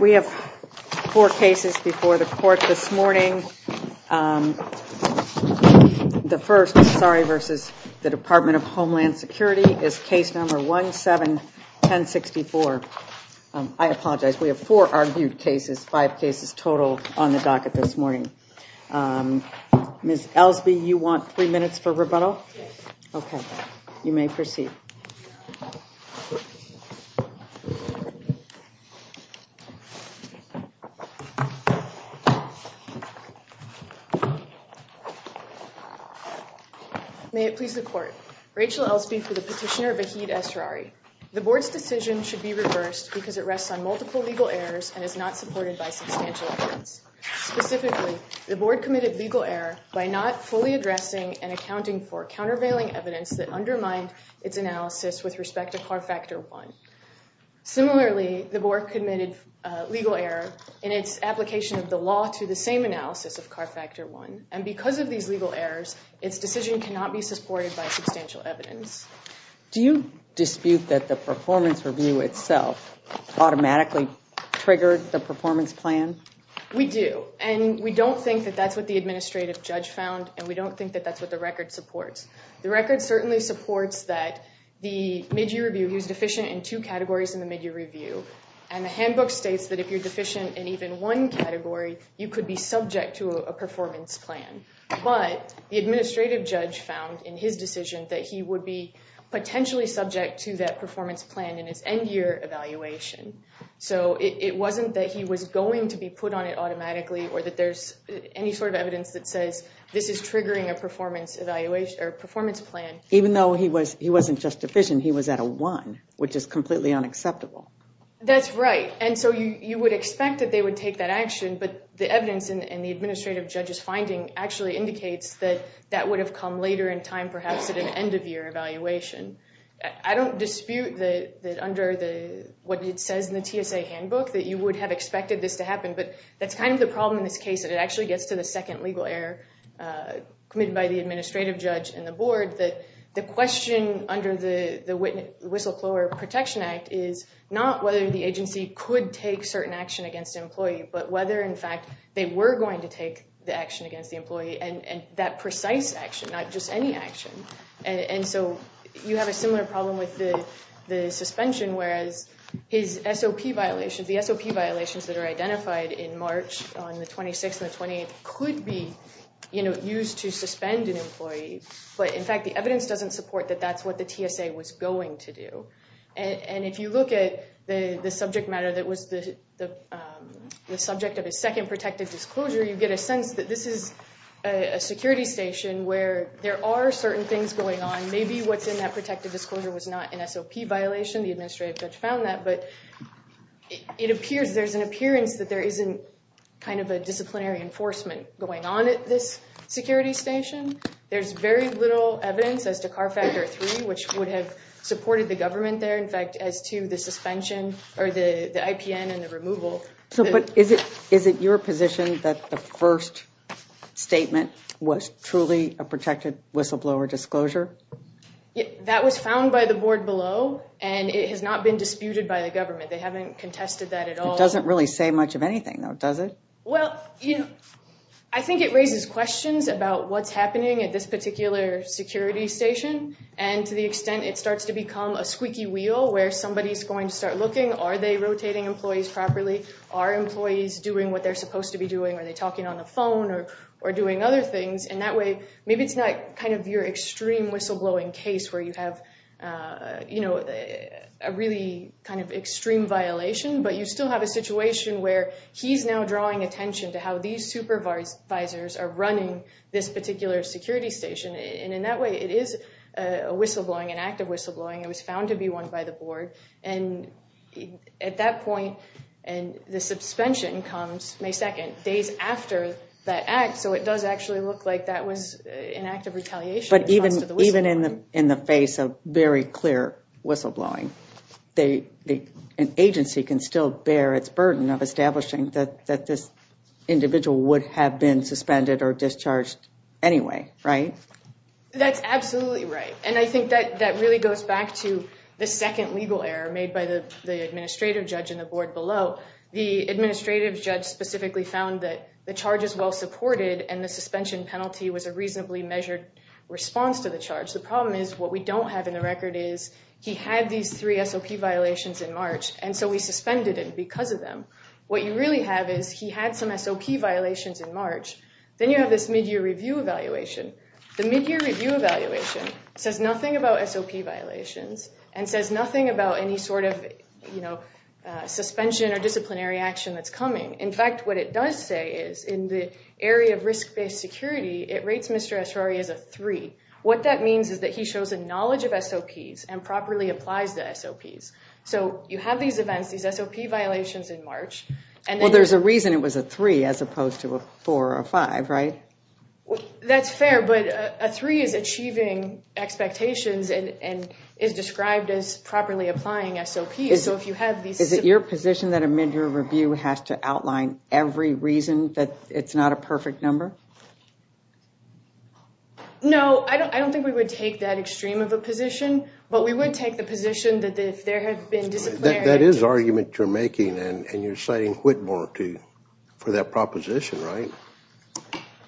We have four cases before the court this morning. The first, Asrari v. DHS, is case number 171064. I apologize, we have four argued cases, five cases total on the docket this morning. May it please the court, Rachel Elsby for the petitioner, Vahid Asrari. The board's decision should be reversed because it rests on multiple legal errors and is not supported by substantial evidence. Specifically, the board committed legal error by not fully Similarly, the board committed legal error in its application of the law to the same analysis of CAR Factor 1, and because of these legal errors, its decision cannot be supported by substantial evidence. Do you dispute that the performance review itself automatically triggered the performance plan? We do, and we don't think that that's what the administrative judge found, and we don't think that that's what the record supports. The record certainly supports that the mid-year review, he was deficient in two categories in the mid-year review, and the handbook states that if you're deficient in even one category, you could be subject to a performance plan, but the administrative judge found in his decision that he would be potentially subject to that performance plan in his end-year evaluation. So it wasn't that he was going to be put on it automatically or that there's any sort of evidence that says this is triggering a performance evaluation or performance plan. Even though he wasn't just deficient, he was at a one, which is completely unacceptable. That's right, and so you would expect that they would take that action, but the evidence in the administrative judge's finding actually indicates that that would have come later in time, perhaps at an end-of-year evaluation. I don't dispute that under what it says in the TSA handbook that you would have expected this to happen, but that's kind of the problem in this case, that it actually gets to the second legal error committed by the administrative judge and the board, that the question under the Whistleblower Protection Act is not whether the agency could take certain action against an employee, but whether in fact they were going to take the action against the employee, and that precise action, not just any action. And so you have a similar problem with the suspension, whereas his SOP violations, the SOP violations that are identified in March on the 26th and the 28th could be used to suspend an employee, but in fact the evidence doesn't support that that's what the TSA was going to do. And if you look at the subject matter that was the subject of his second protective disclosure, you get a sense that this is a security station where there are certain things going on. Maybe what's in that protective disclosure was not an SOP violation, the administrative judge found that, but it appears, there's an appearance that there isn't kind of a disciplinary enforcement going on at this security station. There's very little evidence as to CAR Factor 3, which would have supported the government there, in fact, as to the suspension or the IPN and the removal. So but is it your position that the first statement was truly a protected whistleblower disclosure? That was found by the board below and it has not been disputed by the government. They haven't contested that at all. It doesn't really say much of anything though, does it? Well, you know, I think it raises questions about what's happening at this particular security station and to the extent it starts to become a squeaky wheel where somebody's going to start looking, are they rotating employees properly? Are employees doing what they're supposed to be doing? Are they talking on the phone or doing other things? And that way maybe it's not kind of your extreme whistleblowing case where you have, you know, a really kind of extreme violation but you still have a situation where he's now drawing attention to how these supervisors are running this particular security station and in that way it is a whistleblowing, an act of whistleblowing. It was found to be one by the board and at that point and the suspension comes May 2nd, days after that act, so it does actually look like that was an act of retaliation. But even in the face of very clear whistleblowing, an agency can still bear its burden of establishing that this individual would have been suspended or discharged anyway, right? That's absolutely right and I think that really goes back to the second legal error made by the administrative judge in the board below. The administrative judge specifically found that the charge is well supported and the suspension penalty was a reasonably measured response to the charge. The problem is what we don't have in the record is he had these three SOP violations in March and so we suspended it because of them. What you really have is he had some SOP violations in March, then you have this mid-year review evaluation. The mid-year review evaluation says nothing about SOP violations and says nothing about any sort of, you know, suspension or disciplinary action that's coming. In fact, what it does say is in the area of risk-based security, it rates Mr. Estrari as a three. What that means is that he shows a knowledge of SOPs and properly applies the SOPs. So you have these events, these SOP violations in March. Well, there's a reason it was a three as opposed to a four or five, right? That's fair, but a three is achieving expectations and is described as properly applying SOPs. Is it your position that a mid-year review has to outline every reason that it's not a perfect number? No, I don't think we would take that extreme of a position, but we would take the position that if there had been disciplinary action... That is argument you're making and you're citing Whitmore for that proposition, right?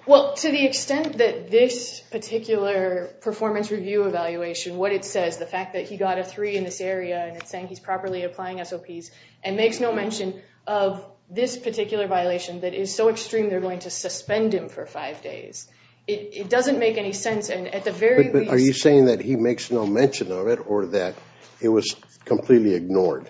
Well, to the extent that this particular performance review evaluation, what it says, the fact that he got a three in this area and it's saying he's properly applying SOPs and makes no mention of this particular violation that is so five days. It doesn't make any sense and at the very least... Are you saying that he makes no mention of it or that it was completely ignored?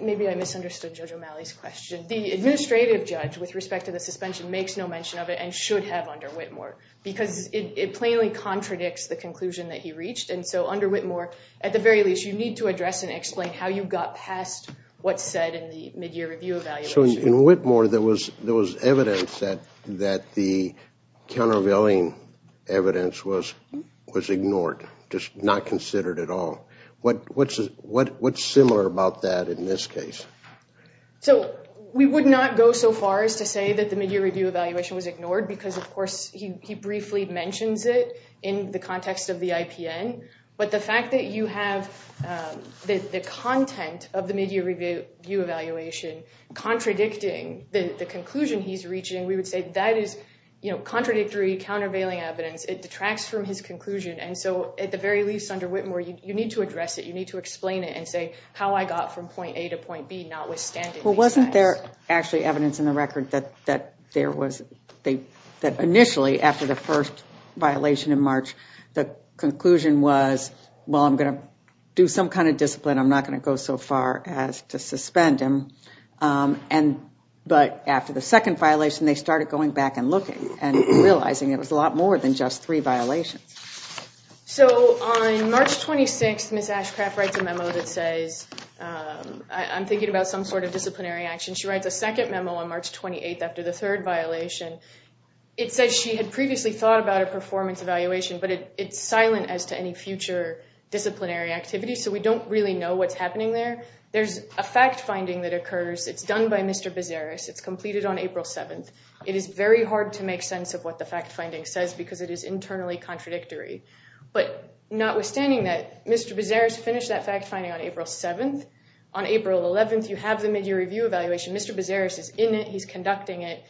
Maybe I misunderstood Judge O'Malley's question. The administrative judge, with respect to the suspension, makes no mention of it and should have under Whitmore because it plainly contradicts the conclusion that he reached. And so under Whitmore, at the very least, you need to address and explain how you got past what's said in the countervailing evidence was ignored, just not considered at all. What's similar about that in this case? So we would not go so far as to say that the mid-year review evaluation was ignored because, of course, he briefly mentions it in the context of the IPN. But the fact that you have the content of the mid-year review evaluation contradicting the conclusion he's reaching, we would say that is contradictory, countervailing evidence. It detracts from his conclusion. And so at the very least, under Whitmore, you need to address it. You need to explain it and say how I got from point A to point B, notwithstanding... Well, wasn't there actually evidence in the record that initially, after the first violation in March, the conclusion was, well, I'm going to do some kind of discipline. I'm not going to go so far as to suspend him. But after the second violation, they started going back and looking and realizing it was a lot more than just three violations. So on March 26th, Ms. Ashcraft writes a memo that says, I'm thinking about some sort of disciplinary action. She writes a second memo on March 28th after the third violation. It says she had previously thought about a performance evaluation, but it's silent as to any future disciplinary activity. So we don't really know what's It's done by Mr. Bezaris. It's completed on April 7th. It is very hard to make sense of what the fact-finding says because it is internally contradictory. But notwithstanding that Mr. Bezaris finished that fact-finding on April 7th, on April 11th, you have the mid-year review evaluation. Mr. Bezaris is in it. He's conducting it.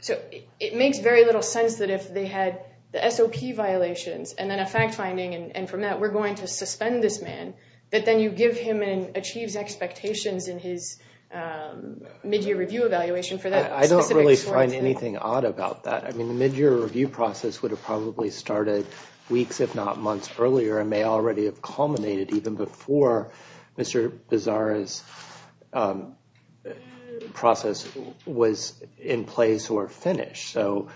So it makes very little sense that if they had the SOP violations and then a fact-finding, and from that, we're going to suspend this man, that then you give him and achieves expectations in his mid-year review evaluation for that. I don't really find anything odd about that. I mean, the mid-year review process would have probably started weeks, if not months, earlier and may already have culminated even before Mr. Bezaris' process was in place or finished. So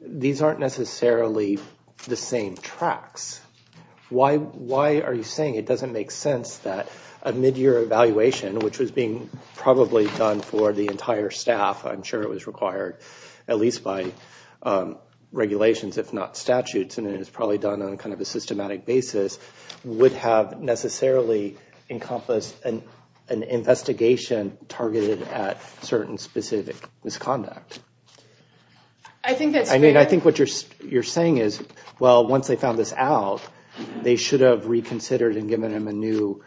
these aren't necessarily the same tracks. Why are you saying it doesn't make sense that a mid-year evaluation, which was being probably done for the entire staff, I'm sure it was required at least by regulations, if not statutes, and it was probably done on kind of a systematic basis, would have necessarily encompassed an investigation targeted at certain specific misconduct? I mean, I think what you're saying is, well, once they found this out, they should have reconsidered and given him a new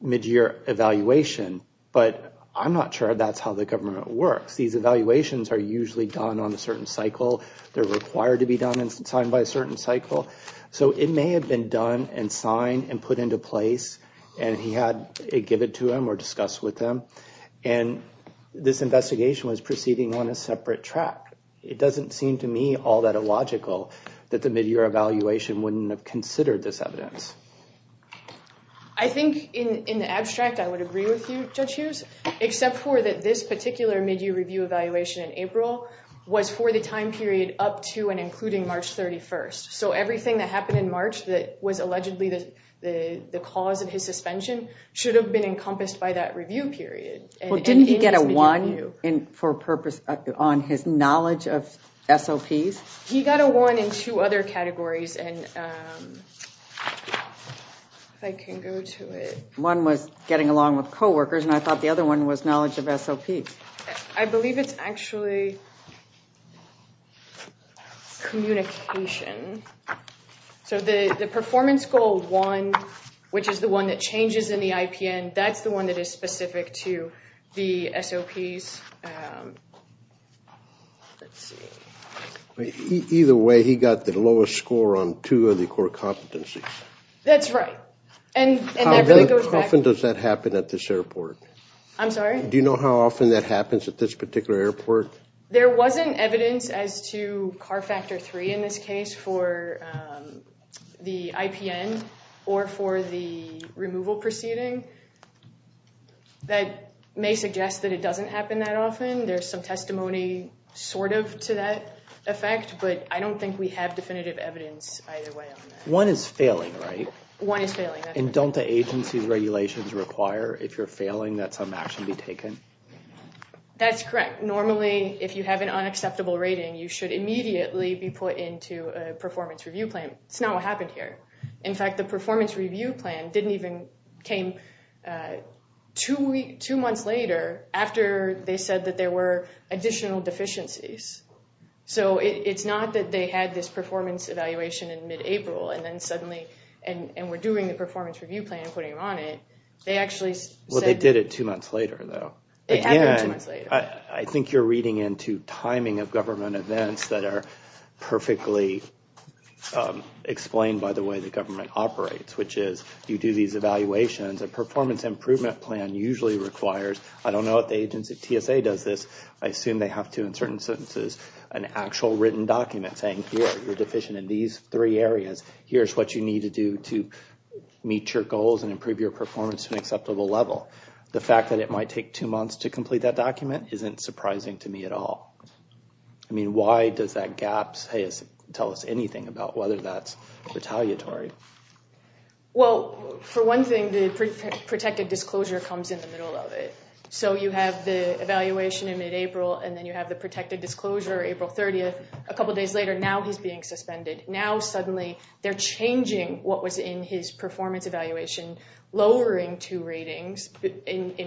mid-year evaluation. But I'm not sure that's how the government works. These evaluations are usually done on a certain cycle. They're required to be done and signed by a certain cycle. So it may have been done and signed and put into place, and he had it given to him or discussed with them. And this investigation was proceeding on a separate track. It doesn't seem to me all that illogical that the mid-year evaluation wouldn't have considered this evidence. I think in the abstract, I would agree with you, Judge Hughes, except for that this particular mid-year review evaluation in April was for the time period up to and including March 31st. So everything that happened in March that was allegedly the cause of his suspension should have been encompassed by that review period. Well, didn't he get a one for purpose on his knowledge of SOPs? He got a one in two other categories, and if I can go to it. One was getting along with co-workers, and I thought the other one was knowledge of SOPs. I believe it's actually communication. So the performance goal one, which is the one that changes in the IPN, that's the one that is specific to the SOPs. Either way, he got the lowest score on two of the core competencies. That's right. How often does that happen at this airport? Do you know how often that happens at this particular airport? There wasn't evidence as to CAR Factor 3 in this case for the IPN or for the removal proceeding. That may suggest that it doesn't happen that often. There's some testimony sort of to that effect, but I don't think we have definitive evidence either way. One is failing, right? One is failing. And don't the agency's regulations require if you're failing that some action be taken? That's correct. Normally, if you have an unacceptable rating, you should immediately be put into a performance review plan. That's not what happened here. In fact, the performance review plan didn't even came two months later after they said that there were additional deficiencies. So it's not that they had this performance evaluation in mid-April and then suddenly, and we're doing the performance review plan and putting them on it. They actually said- Well, they did it two months later though. It happened two months later. Again, I think you're reading into the timing of government events that are perfectly explained by the way the government operates, which is you do these evaluations. A performance improvement plan usually requires- I don't know what the agency- TSA does this. I assume they have to, in certain sentences, an actual written document saying, here, you're deficient in these three areas. Here's what you need to do to meet your goals and improve your performance to an acceptable level. The fact that it might take two months to complete that document isn't surprising to me at all. I mean, why does that gap tell us anything about whether that's retaliatory? Well, for one thing, the protected disclosure comes in the middle of it. So you have the evaluation in mid-April and then you have the protected disclosure April 30th. A couple days later, now he's being suspended. Now, suddenly, they're changing what was in his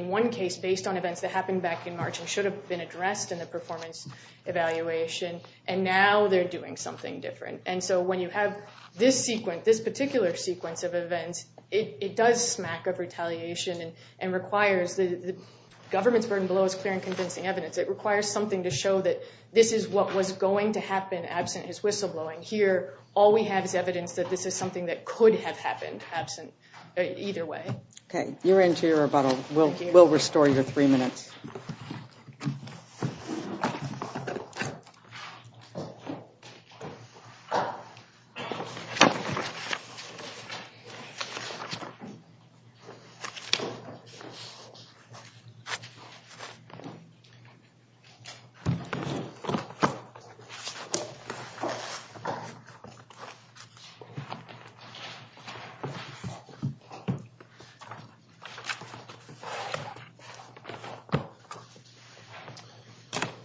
one case based on events that happened back in March and should have been addressed in the performance evaluation, and now they're doing something different. And so when you have this sequence, this particular sequence of events, it does smack of retaliation and requires- the government's burden below is clear and convincing evidence. It requires something to show that this is what was going to happen absent his whistleblowing. Here, all we have is evidence that this is something that could have happened either way. Okay, you're into your rebuttal. We'll restore your three minutes.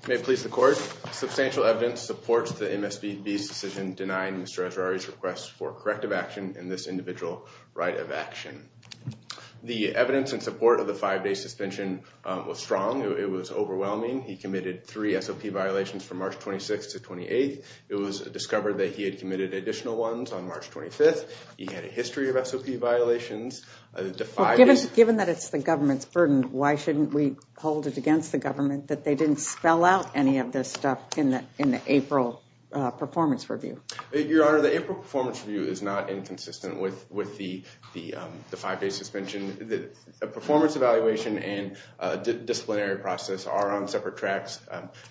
May it please the court. Substantial evidence supports the MSPB's decision denying Mr. Esrari's request for corrective action in this individual right of action. The evidence in support of the five-day suspension was strong. It was overwhelming. He committed three SOP violations from March 26th to 28th. It was discovered that he had violations. Given that it's the government's burden, why shouldn't we hold it against the government that they didn't spell out any of this stuff in the April performance review? Your Honor, the April performance review is not inconsistent with the five-day suspension. A performance evaluation and disciplinary process are on separate tracks,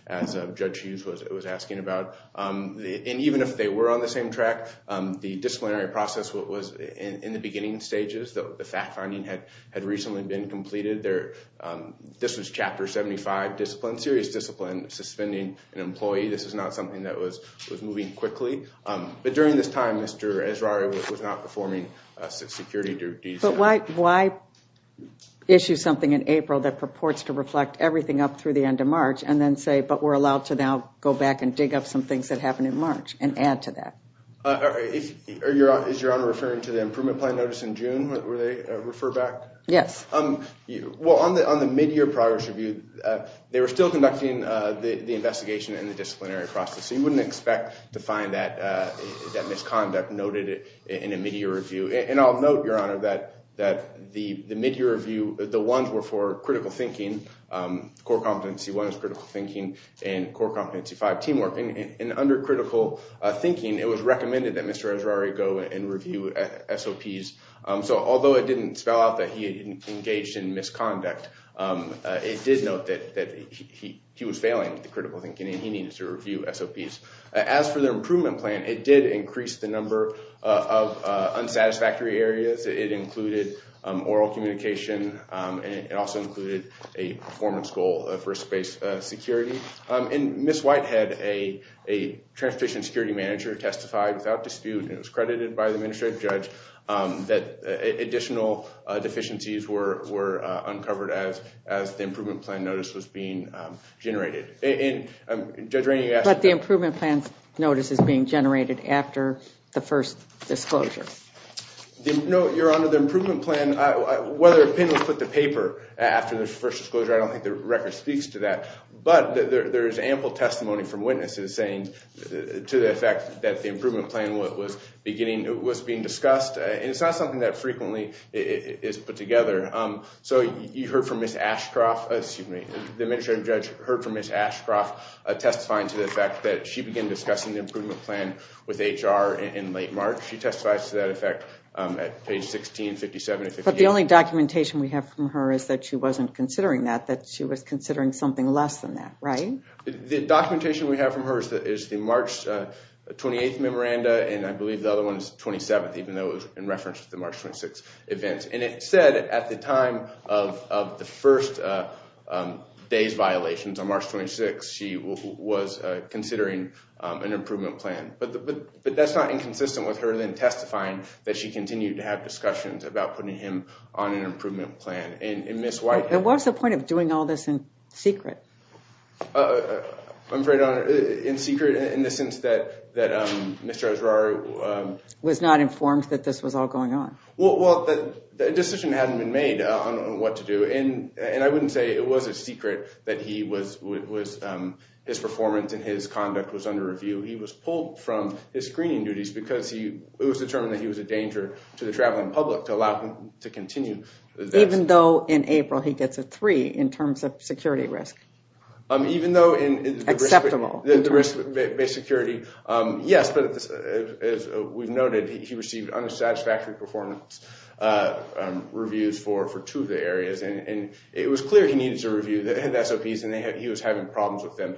as Judge Hughes was asking about. Even if they were on the same track, the disciplinary process was in the beginning stages. The fact-finding had recently been completed. This was Chapter 75 discipline, serious discipline, suspending an employee. This is not something that was moving quickly. During this time, Mr. Esrari was not performing security duties. But why issue something in April that purports to reflect everything up through the end of March and then say, but we're allowed to now go back and dig up some things that happened in March and add to that? Is Your Honor referring to the improvement plan notice in June, where they refer back? Yes. Well, on the mid-year progress review, they were still conducting the investigation and the disciplinary process. So you wouldn't expect to find that misconduct noted in a mid-year review. And I'll note, Your Honor, that the mid-year review, the ones were for critical thinking, core competency one is critical thinking, and core competency five, teamwork. And under critical thinking, it was recommended that Mr. Esrari go and review SOPs. So although it didn't spell out that he engaged in misconduct, it did note that he was failing with the critical thinking and he needed to review SOPs. As for the improvement plan, it did increase the number of unsatisfactory areas. It included oral communication, and it also included a performance goal for space security. And Ms. Whitehead, a transportation security manager, testified without dispute, and it was credited by the administrative judge, that additional deficiencies were uncovered as the improvement plan notice was being generated. And Judge Rainey, you asked- But the improvement plan notice is being generated after the first disclosure. No, Your Honor, the improvement plan, whether a pin was put to paper after the first disclosure, I don't think the record speaks to that. But there is ample testimony from witnesses saying to the effect that the improvement plan was being discussed. And it's not something that frequently is put together. So you heard from Ms. Ashcroft, excuse me, the administrative judge heard from Ms. Ashcroft testifying to the fact that she began discussing the improvement plan with HR in late March. She testifies to that at page 1657. But the only documentation we have from her is that she wasn't considering that, that she was considering something less than that, right? The documentation we have from her is the March 28th memoranda, and I believe the other one is 27th, even though it was in reference to the March 26th event. And it said at the time of the first day's violations on March 26th, she was considering an improvement plan. But that's not inconsistent with her then testifying that she continued to have discussions about putting him on an improvement plan. And Ms. White... And what's the point of doing all this in secret? I'm afraid in secret in the sense that, that Mr. Osorio... Was not informed that this was all going on. Well, the decision hadn't been made on what to do. And I wouldn't say it was a secret that he was, his performance and his conduct was under review. He was pulled from his screening duties because it was determined that he was a danger to the traveling public to allow him to continue. Even though in April, he gets a three in terms of security risk. Even though in... Acceptable. The risk-based security. Yes, but as we've noted, he received unsatisfactory performance reviews for two of the areas. And it was clear he needed to review the SOPs and he was having problems with them.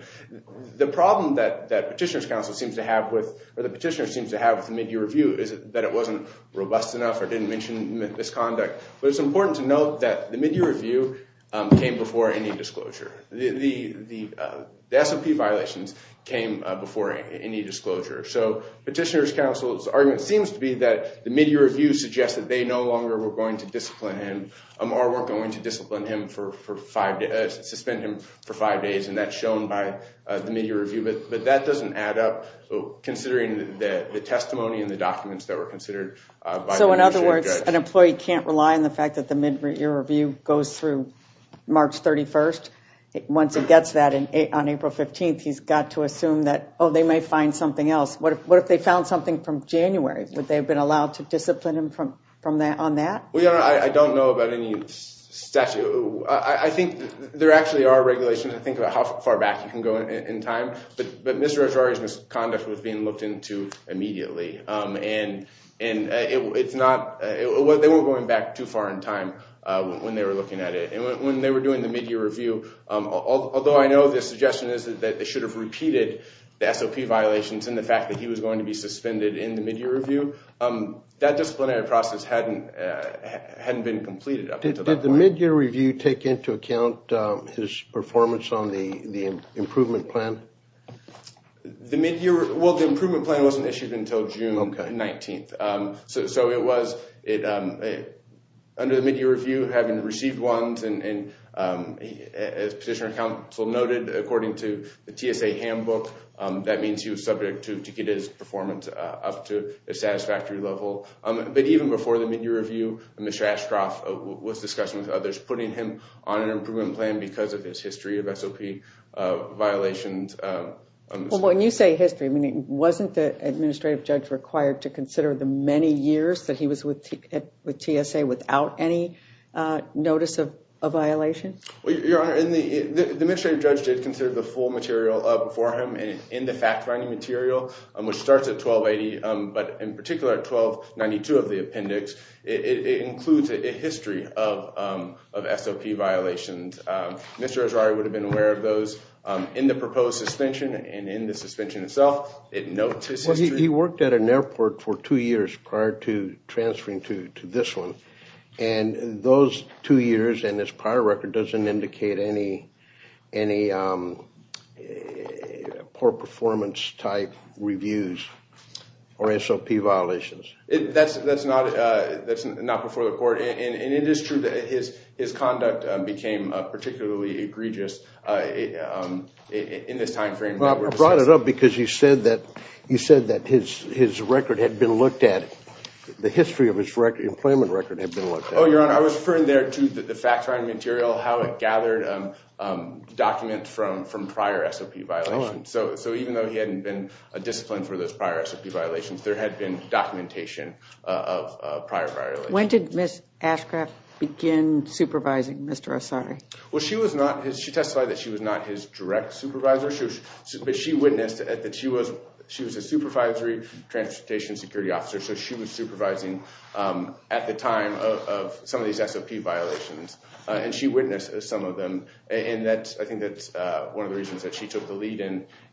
The problem that Petitioner's Counsel seems to have with, or the petitioner seems to have with the Mid-Year Review is that it wasn't robust enough or didn't mention this conduct. But it's important to note that the Mid-Year Review came before any disclosure. The SOP violations came before any disclosure. So Petitioner's Counsel's argument seems to be that the Mid-Year Review suggests that they no longer were going to discipline him or weren't going to discipline him for five... Suspend him for five days. And that's shown by the Mid-Year Review. So in other words, an employee can't rely on the fact that the Mid-Year Review goes through March 31st. Once it gets that on April 15th, he's got to assume that, oh, they may find something else. What if they found something from January? Would they have been allowed to discipline him from that on that? Well, Your Honor, I don't know about any statute. I think there actually are regulations. I think about how far back you can go in time. But Mr. Conduct was being looked into immediately. And they weren't going back too far in time when they were looking at it. And when they were doing the Mid-Year Review, although I know the suggestion is that they should have repeated the SOP violations and the fact that he was going to be suspended in the Mid-Year Review, that disciplinary process hadn't been completed up until that point. Did the Mid-Year Review take into account his performance on the Improvement Plan? Well, the Improvement Plan wasn't issued until June 19th. So under the Mid-Year Review, having received one, as Petitioner and Counsel noted, according to the TSA handbook, that means he was subject to get his performance up to a satisfactory level. But even before the Mid-Year Review, Mr. Ashcroft was discussing with others putting him on an Improvement Plan because of his history of SOP violations. When you say history, wasn't the Administrative Judge required to consider the many years that he was with TSA without any notice of violation? Well, Your Honor, the Administrative Judge did consider the full material before him in the fact-finding material, which starts at 1280, but in particular at 1292 of the appendix, it includes a history of SOP violations. Mr. Azari would have been aware of those in the proposed suspension and in the suspension itself. He worked at an airport for two years prior to transferring to this one, and those two years and this prior record doesn't indicate any poor performance type reviews or SOP violations. That's not before the court, and it is true that his conduct became particularly egregious in this time frame. I brought it up because you said that his record had been looked at, the history of his employment record had been looked at. Oh, Your Honor, I was referring there to the fact-finding material, how it gathered documents from prior SOP violations. So even though he hadn't been disciplined for those prior SOP violations, there had been documentation of prior violations. When did Ms. Ashcraft begin supervising Mr. Azari? Well, she testified that she was not his direct supervisor, but she witnessed that she was a supervisory transportation security officer, so she was supervising at the time of some of these SOP violations, and she witnessed some of them. I think that's one of the reasons that she took the lead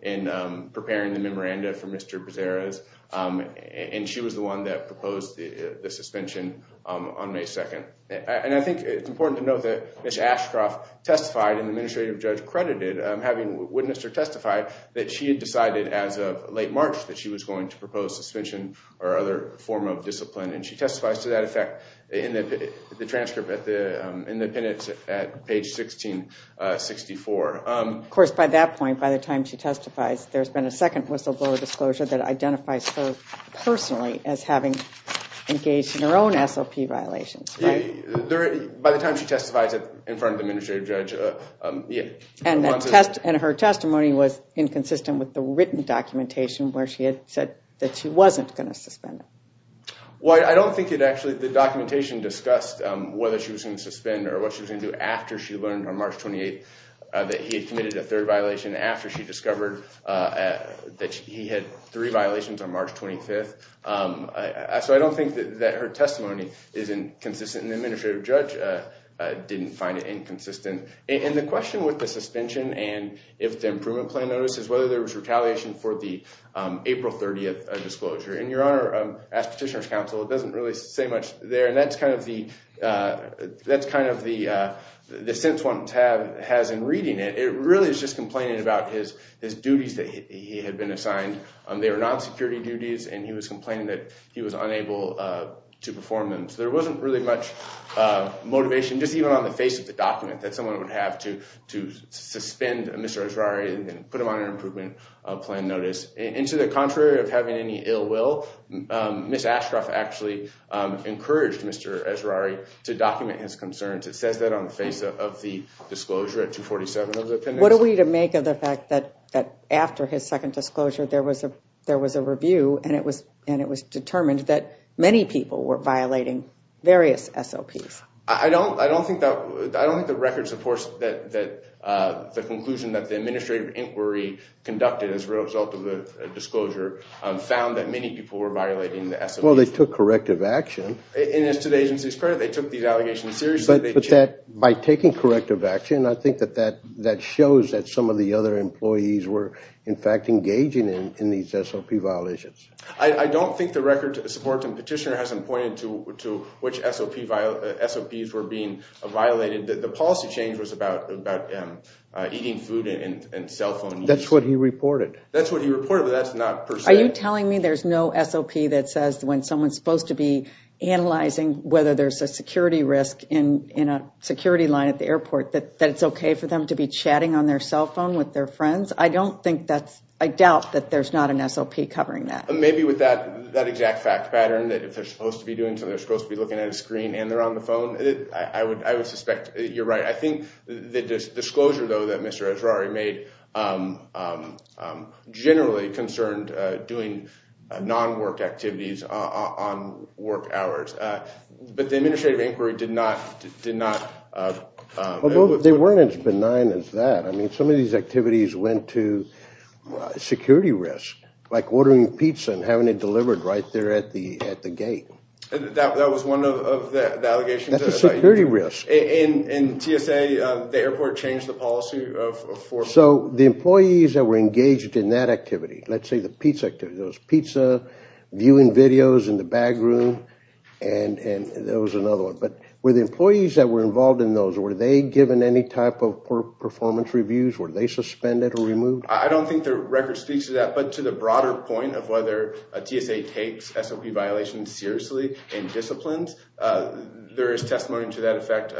in preparing the memoranda for Mr. Bezerra's, and she was the one that proposed the suspension on May 2nd. I think it's important to note that Ms. Ashcraft testified and the administrative judge credited having witnessed or testified that she had decided as of late March that she was going to propose suspension or other form of discipline, and she testifies to that effect the transcript in the appendix at page 1664. Of course, by that point, by the time she testifies, there's been a second whistleblower disclosure that identifies her personally as having engaged in her own SOP violations. By the time she testifies in front of the administrative judge. Yeah, and her testimony was inconsistent with the written documentation where she had said that she wasn't going to suspend. Well, I don't think it actually, the documentation discussed whether she was going to suspend or what she was going to do after she learned on March 28th that he had committed a third violation after she discovered that he had three violations on March 25th, so I don't think that her testimony is inconsistent. The administrative judge didn't find it inconsistent, and the question with the suspension and if the improvement plan notices whether there was retaliation for the April 30th disclosure, and your honor, as petitioner's counsel, it doesn't really say much there, and that's kind of the sense one has in reading it. It really is just complaining about his duties that he had been assigned. They were non-security duties, and he was complaining that he was unable to perform them, so there wasn't really much motivation just even on the face of the document that someone would have to suspend Mr. Esrari and put him on an improvement plan notice. And to the contrary of having any ill will, Ms. Ashcroft actually encouraged Mr. Esrari to document his concerns. It says that on the face of the disclosure at 247 of the appendix. What are we to make of the fact that after his second disclosure there was a review, and it was determined that many people were violating various SLPs? I don't, I don't think that, I don't think the record supports that that the conclusion that the administrative inquiry conducted as a result of the disclosure found that many people were violating the SLP. Well, they took corrective action. And as to the agency's credit, they took these allegations seriously. But that by taking corrective action, I think that that that shows that some of the other employees were in fact engaging in these SLP violations. I don't think the record supports and petitioner hasn't pointed to which SLPs were being violated. The policy change was about eating food and cell phone use. That's what he reported. That's what he reported, but that's not per se. Are you telling me there's no SLP that says when someone's supposed to be analyzing whether there's a security risk in a security line at the airport, that it's okay for them to be chatting on their cell phone with their friends? I don't think that's, I doubt that there's not an SLP covering that. Maybe with that, that exact fact pattern that if they're supposed to be doing something, they're supposed to be looking at a screen and they're on the phone. I would, I would suspect you're right. I think the disclosure though that Mr. Esrari made generally concerned doing non-work activities on work hours, but the administrative inquiry did not, did not. Although they weren't as benign as that. I mean some of these activities went to security risk, like ordering pizza and having it delivered right there at the, at the gate. That was one of the allegations. That's a security risk. In TSA, the airport changed the policy of... So the employees that were engaged in that activity, let's say the pizza activity, those pizza viewing videos in the back room and, and there was another one, but were the employees that were involved in those, were they given any type of performance reviews? Were they suspended or removed? I don't think the record speaks to that, but to the broader point of whether a TSA takes SLP violations seriously in disciplines, there is testimony to that effect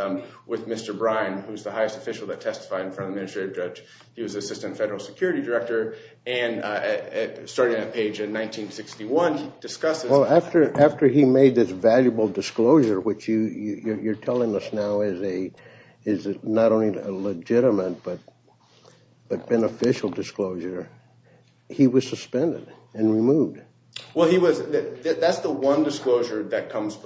with Mr. Brine, who's the highest official that testified in front of the administrative judge. He was assistant federal security director and starting that page in 1961 discusses... Well after, after he made this valuable disclosure, which you, you're telling us now is a, is not only a legitimate but, but beneficial disclosure, he was suspended and removed. Well he was, that's the one disclosure that comes,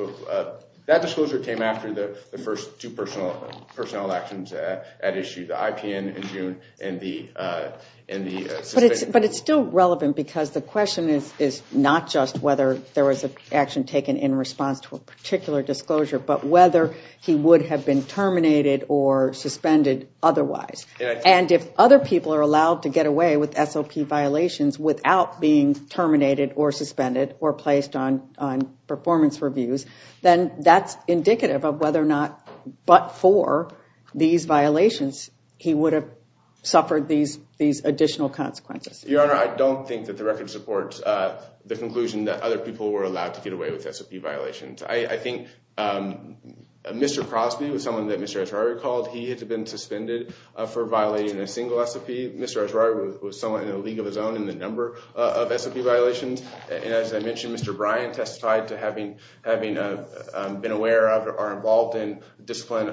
that disclosure came after the, the first two personnel, personnel actions at issue, the IPN in June and the, and the... But it's, but it's still relevant because the question is, is not just whether there was an action taken in response to a particular disclosure, but whether he would have been terminated or suspended otherwise. And if other people are allowed to get away with SLP violations without being terminated or suspended or placed on, on performance reviews, then that's indicative of whether or not, but for these violations, he would have suffered these, these additional consequences. Your Honor, I don't think that the record supports the conclusion that other people were allowed to get away with SLP violations. I, I think Mr. Crosby was someone that Mr. Esrauri called. He had been suspended for violating a single SLP. Mr. Esrauri was someone in the league of his own in the number of SLP violations. And as I mentioned, Mr. Bryant testified to having, having been aware of or involved in discipline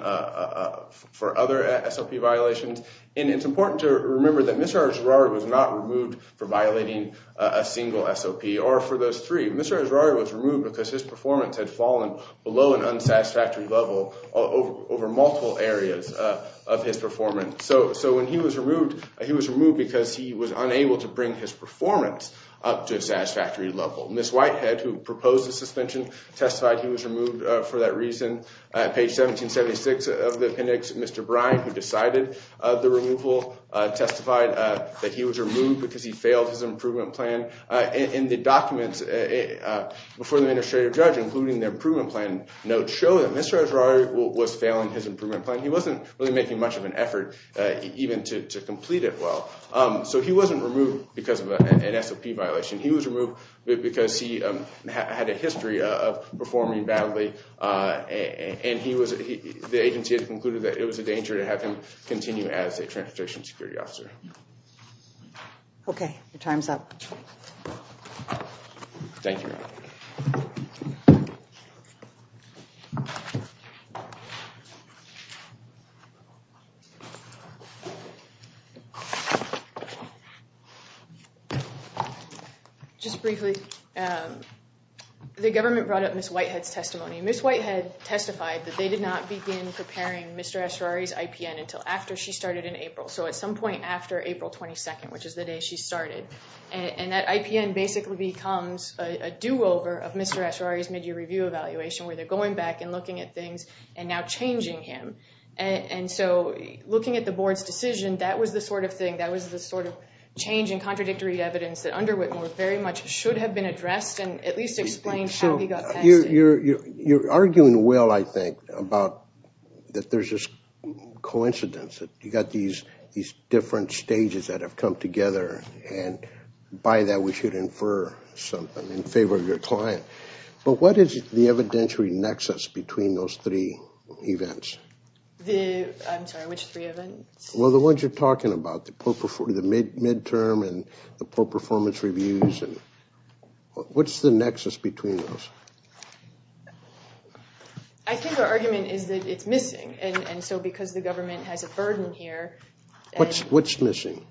for other SLP violations. And it's important to remember that Mr. Esrauri was not removed for violating a single SLP or for those three. Mr. Esrauri was removed because his performance had fallen below an unsatisfactory level over, over multiple areas of his performance. So, so when he was removed, he was removed because he was unable to bring his performance up to a satisfactory level. Ms. Whitehead, who proposed the suspension, testified he was removed for that reason. Page 1776 of the appendix, Mr. Bryant, who decided the removal, testified that he was in the documents before the administrative judge, including the improvement plan notes, show that Mr. Esrauri was failing his improvement plan. He wasn't really making much of an effort even to complete it well. So he wasn't removed because of an SLP violation. He was removed because he had a history of performing badly. And he was, the agency had concluded that it was a danger to have him continue as a Transition Security Officer. Okay, your time's up. Thank you. Just briefly, the government brought up Ms. Whitehead's testimony. Ms. Whitehead testified that they did not begin preparing Mr. Esrauri's IPN until after she started in April. So at some after April 22nd, which is the day she started. And that IPN basically becomes a do-over of Mr. Esrauri's mid-year review evaluation, where they're going back and looking at things and now changing him. And so looking at the board's decision, that was the sort of thing, that was the sort of change in contradictory evidence that underwent more very much should have been addressed and at least explained how he got past it. So you're arguing well, I think, about that there's coincidence that you got these different stages that have come together and by that we should infer something in favor of your client. But what is the evidentiary nexus between those three events? The, I'm sorry, which three events? Well, the ones you're talking about, the mid-term and the poor performance reviews. What's the nexus between those? I think our argument is that it's missing and so because the government has a burden here. What's, what's missing?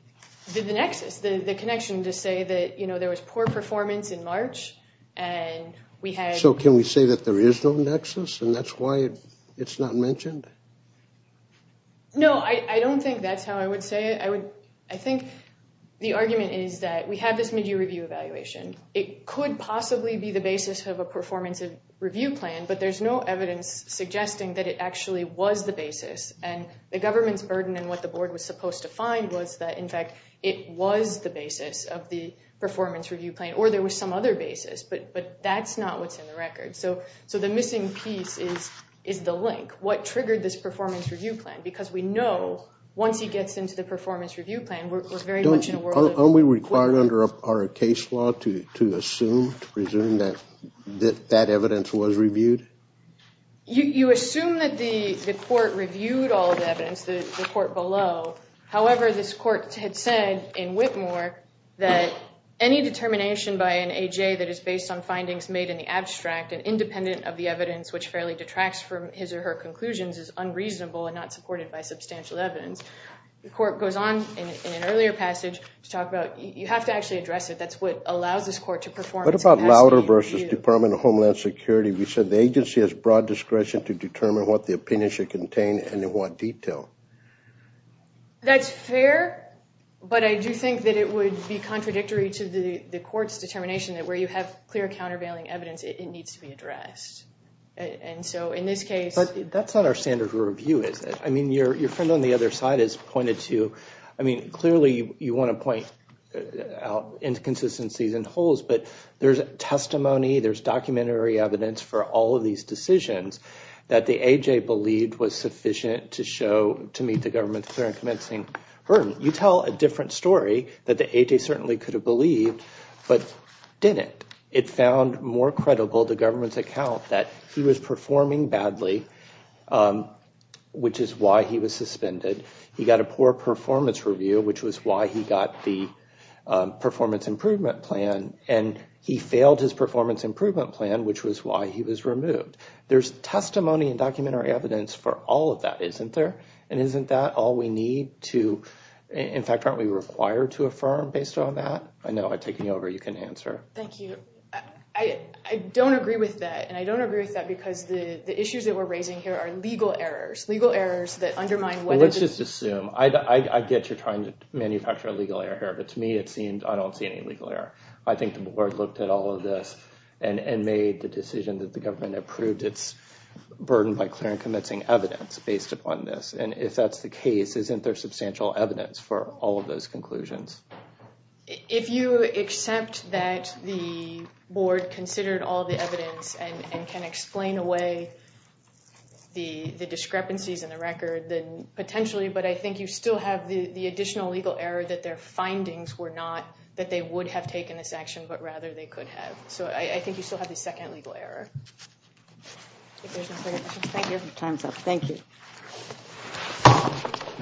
The nexus, the connection to say that, you know, there was poor performance in March and we had. So can we say that there is no nexus and that's why it's not mentioned? No, I don't think that's how I would say it. I would, I think the argument is that we have this evaluation. It could possibly be the basis of a performance review plan, but there's no evidence suggesting that it actually was the basis and the government's burden and what the board was supposed to find was that, in fact, it was the basis of the performance review plan or there was some other basis, but that's not what's in the record. So the missing piece is the link. What triggered this performance review plan? Because we know once he gets into the performance review plan, we're very much in a world. Are we required under our case law to assume, to presume that that evidence was reviewed? You assume that the court reviewed all the evidence, the court below. However, this court had said in Whitmore that any determination by an A.J. that is based on findings made in the abstract and independent of the evidence which fairly detracts from his or conclusions is unreasonable and not supported by substantial evidence. The court goes on in an earlier passage to talk about you have to actually address it. That's what allows this court to perform. What about Lowder versus Department of Homeland Security? We said the agency has broad discretion to determine what the opinion should contain and in what detail. That's fair, but I do think that it would be contradictory to the the court's determination that where you have clear countervailing evidence, it needs to be addressed. And so in this case... But that's not our standard review, is it? I mean, your friend on the other side has pointed to, I mean, clearly you want to point out inconsistencies and holes, but there's testimony, there's documentary evidence for all of these decisions that the A.J. believed was sufficient to show, to meet the government's fair and convincing burden. You tell a different story that the A.J. certainly could have believed, but didn't. It found more credible the government's account that he was performing badly, which is why he was suspended. He got a poor performance review, which was why he got the performance improvement plan, and he failed his performance improvement plan, which was why he was removed. There's testimony and documentary evidence for all of that, isn't there? And isn't that all we need to... In fact, aren't we required to affirm based on that? I know by taking over, you can answer. Thank you. I don't agree with that, and I don't agree with that because the issues that we're raising here are legal errors, legal errors that undermine... Let's just assume. I get you're trying to manufacture a legal error here, but to me it seems I don't see any legal error. I think the board looked at all of this and made the decision that the government approved its burden by clear and convincing evidence based upon this, and if that's the case, isn't there substantial evidence for all of those conclusions? If you accept that the board considered all the evidence and can explain away the discrepancies in the record, then potentially, but I think you still have the additional legal error that their findings were not that they would have taken this but rather they could have. So I think you still have the second legal error. Thank you. Time's up. Thank you.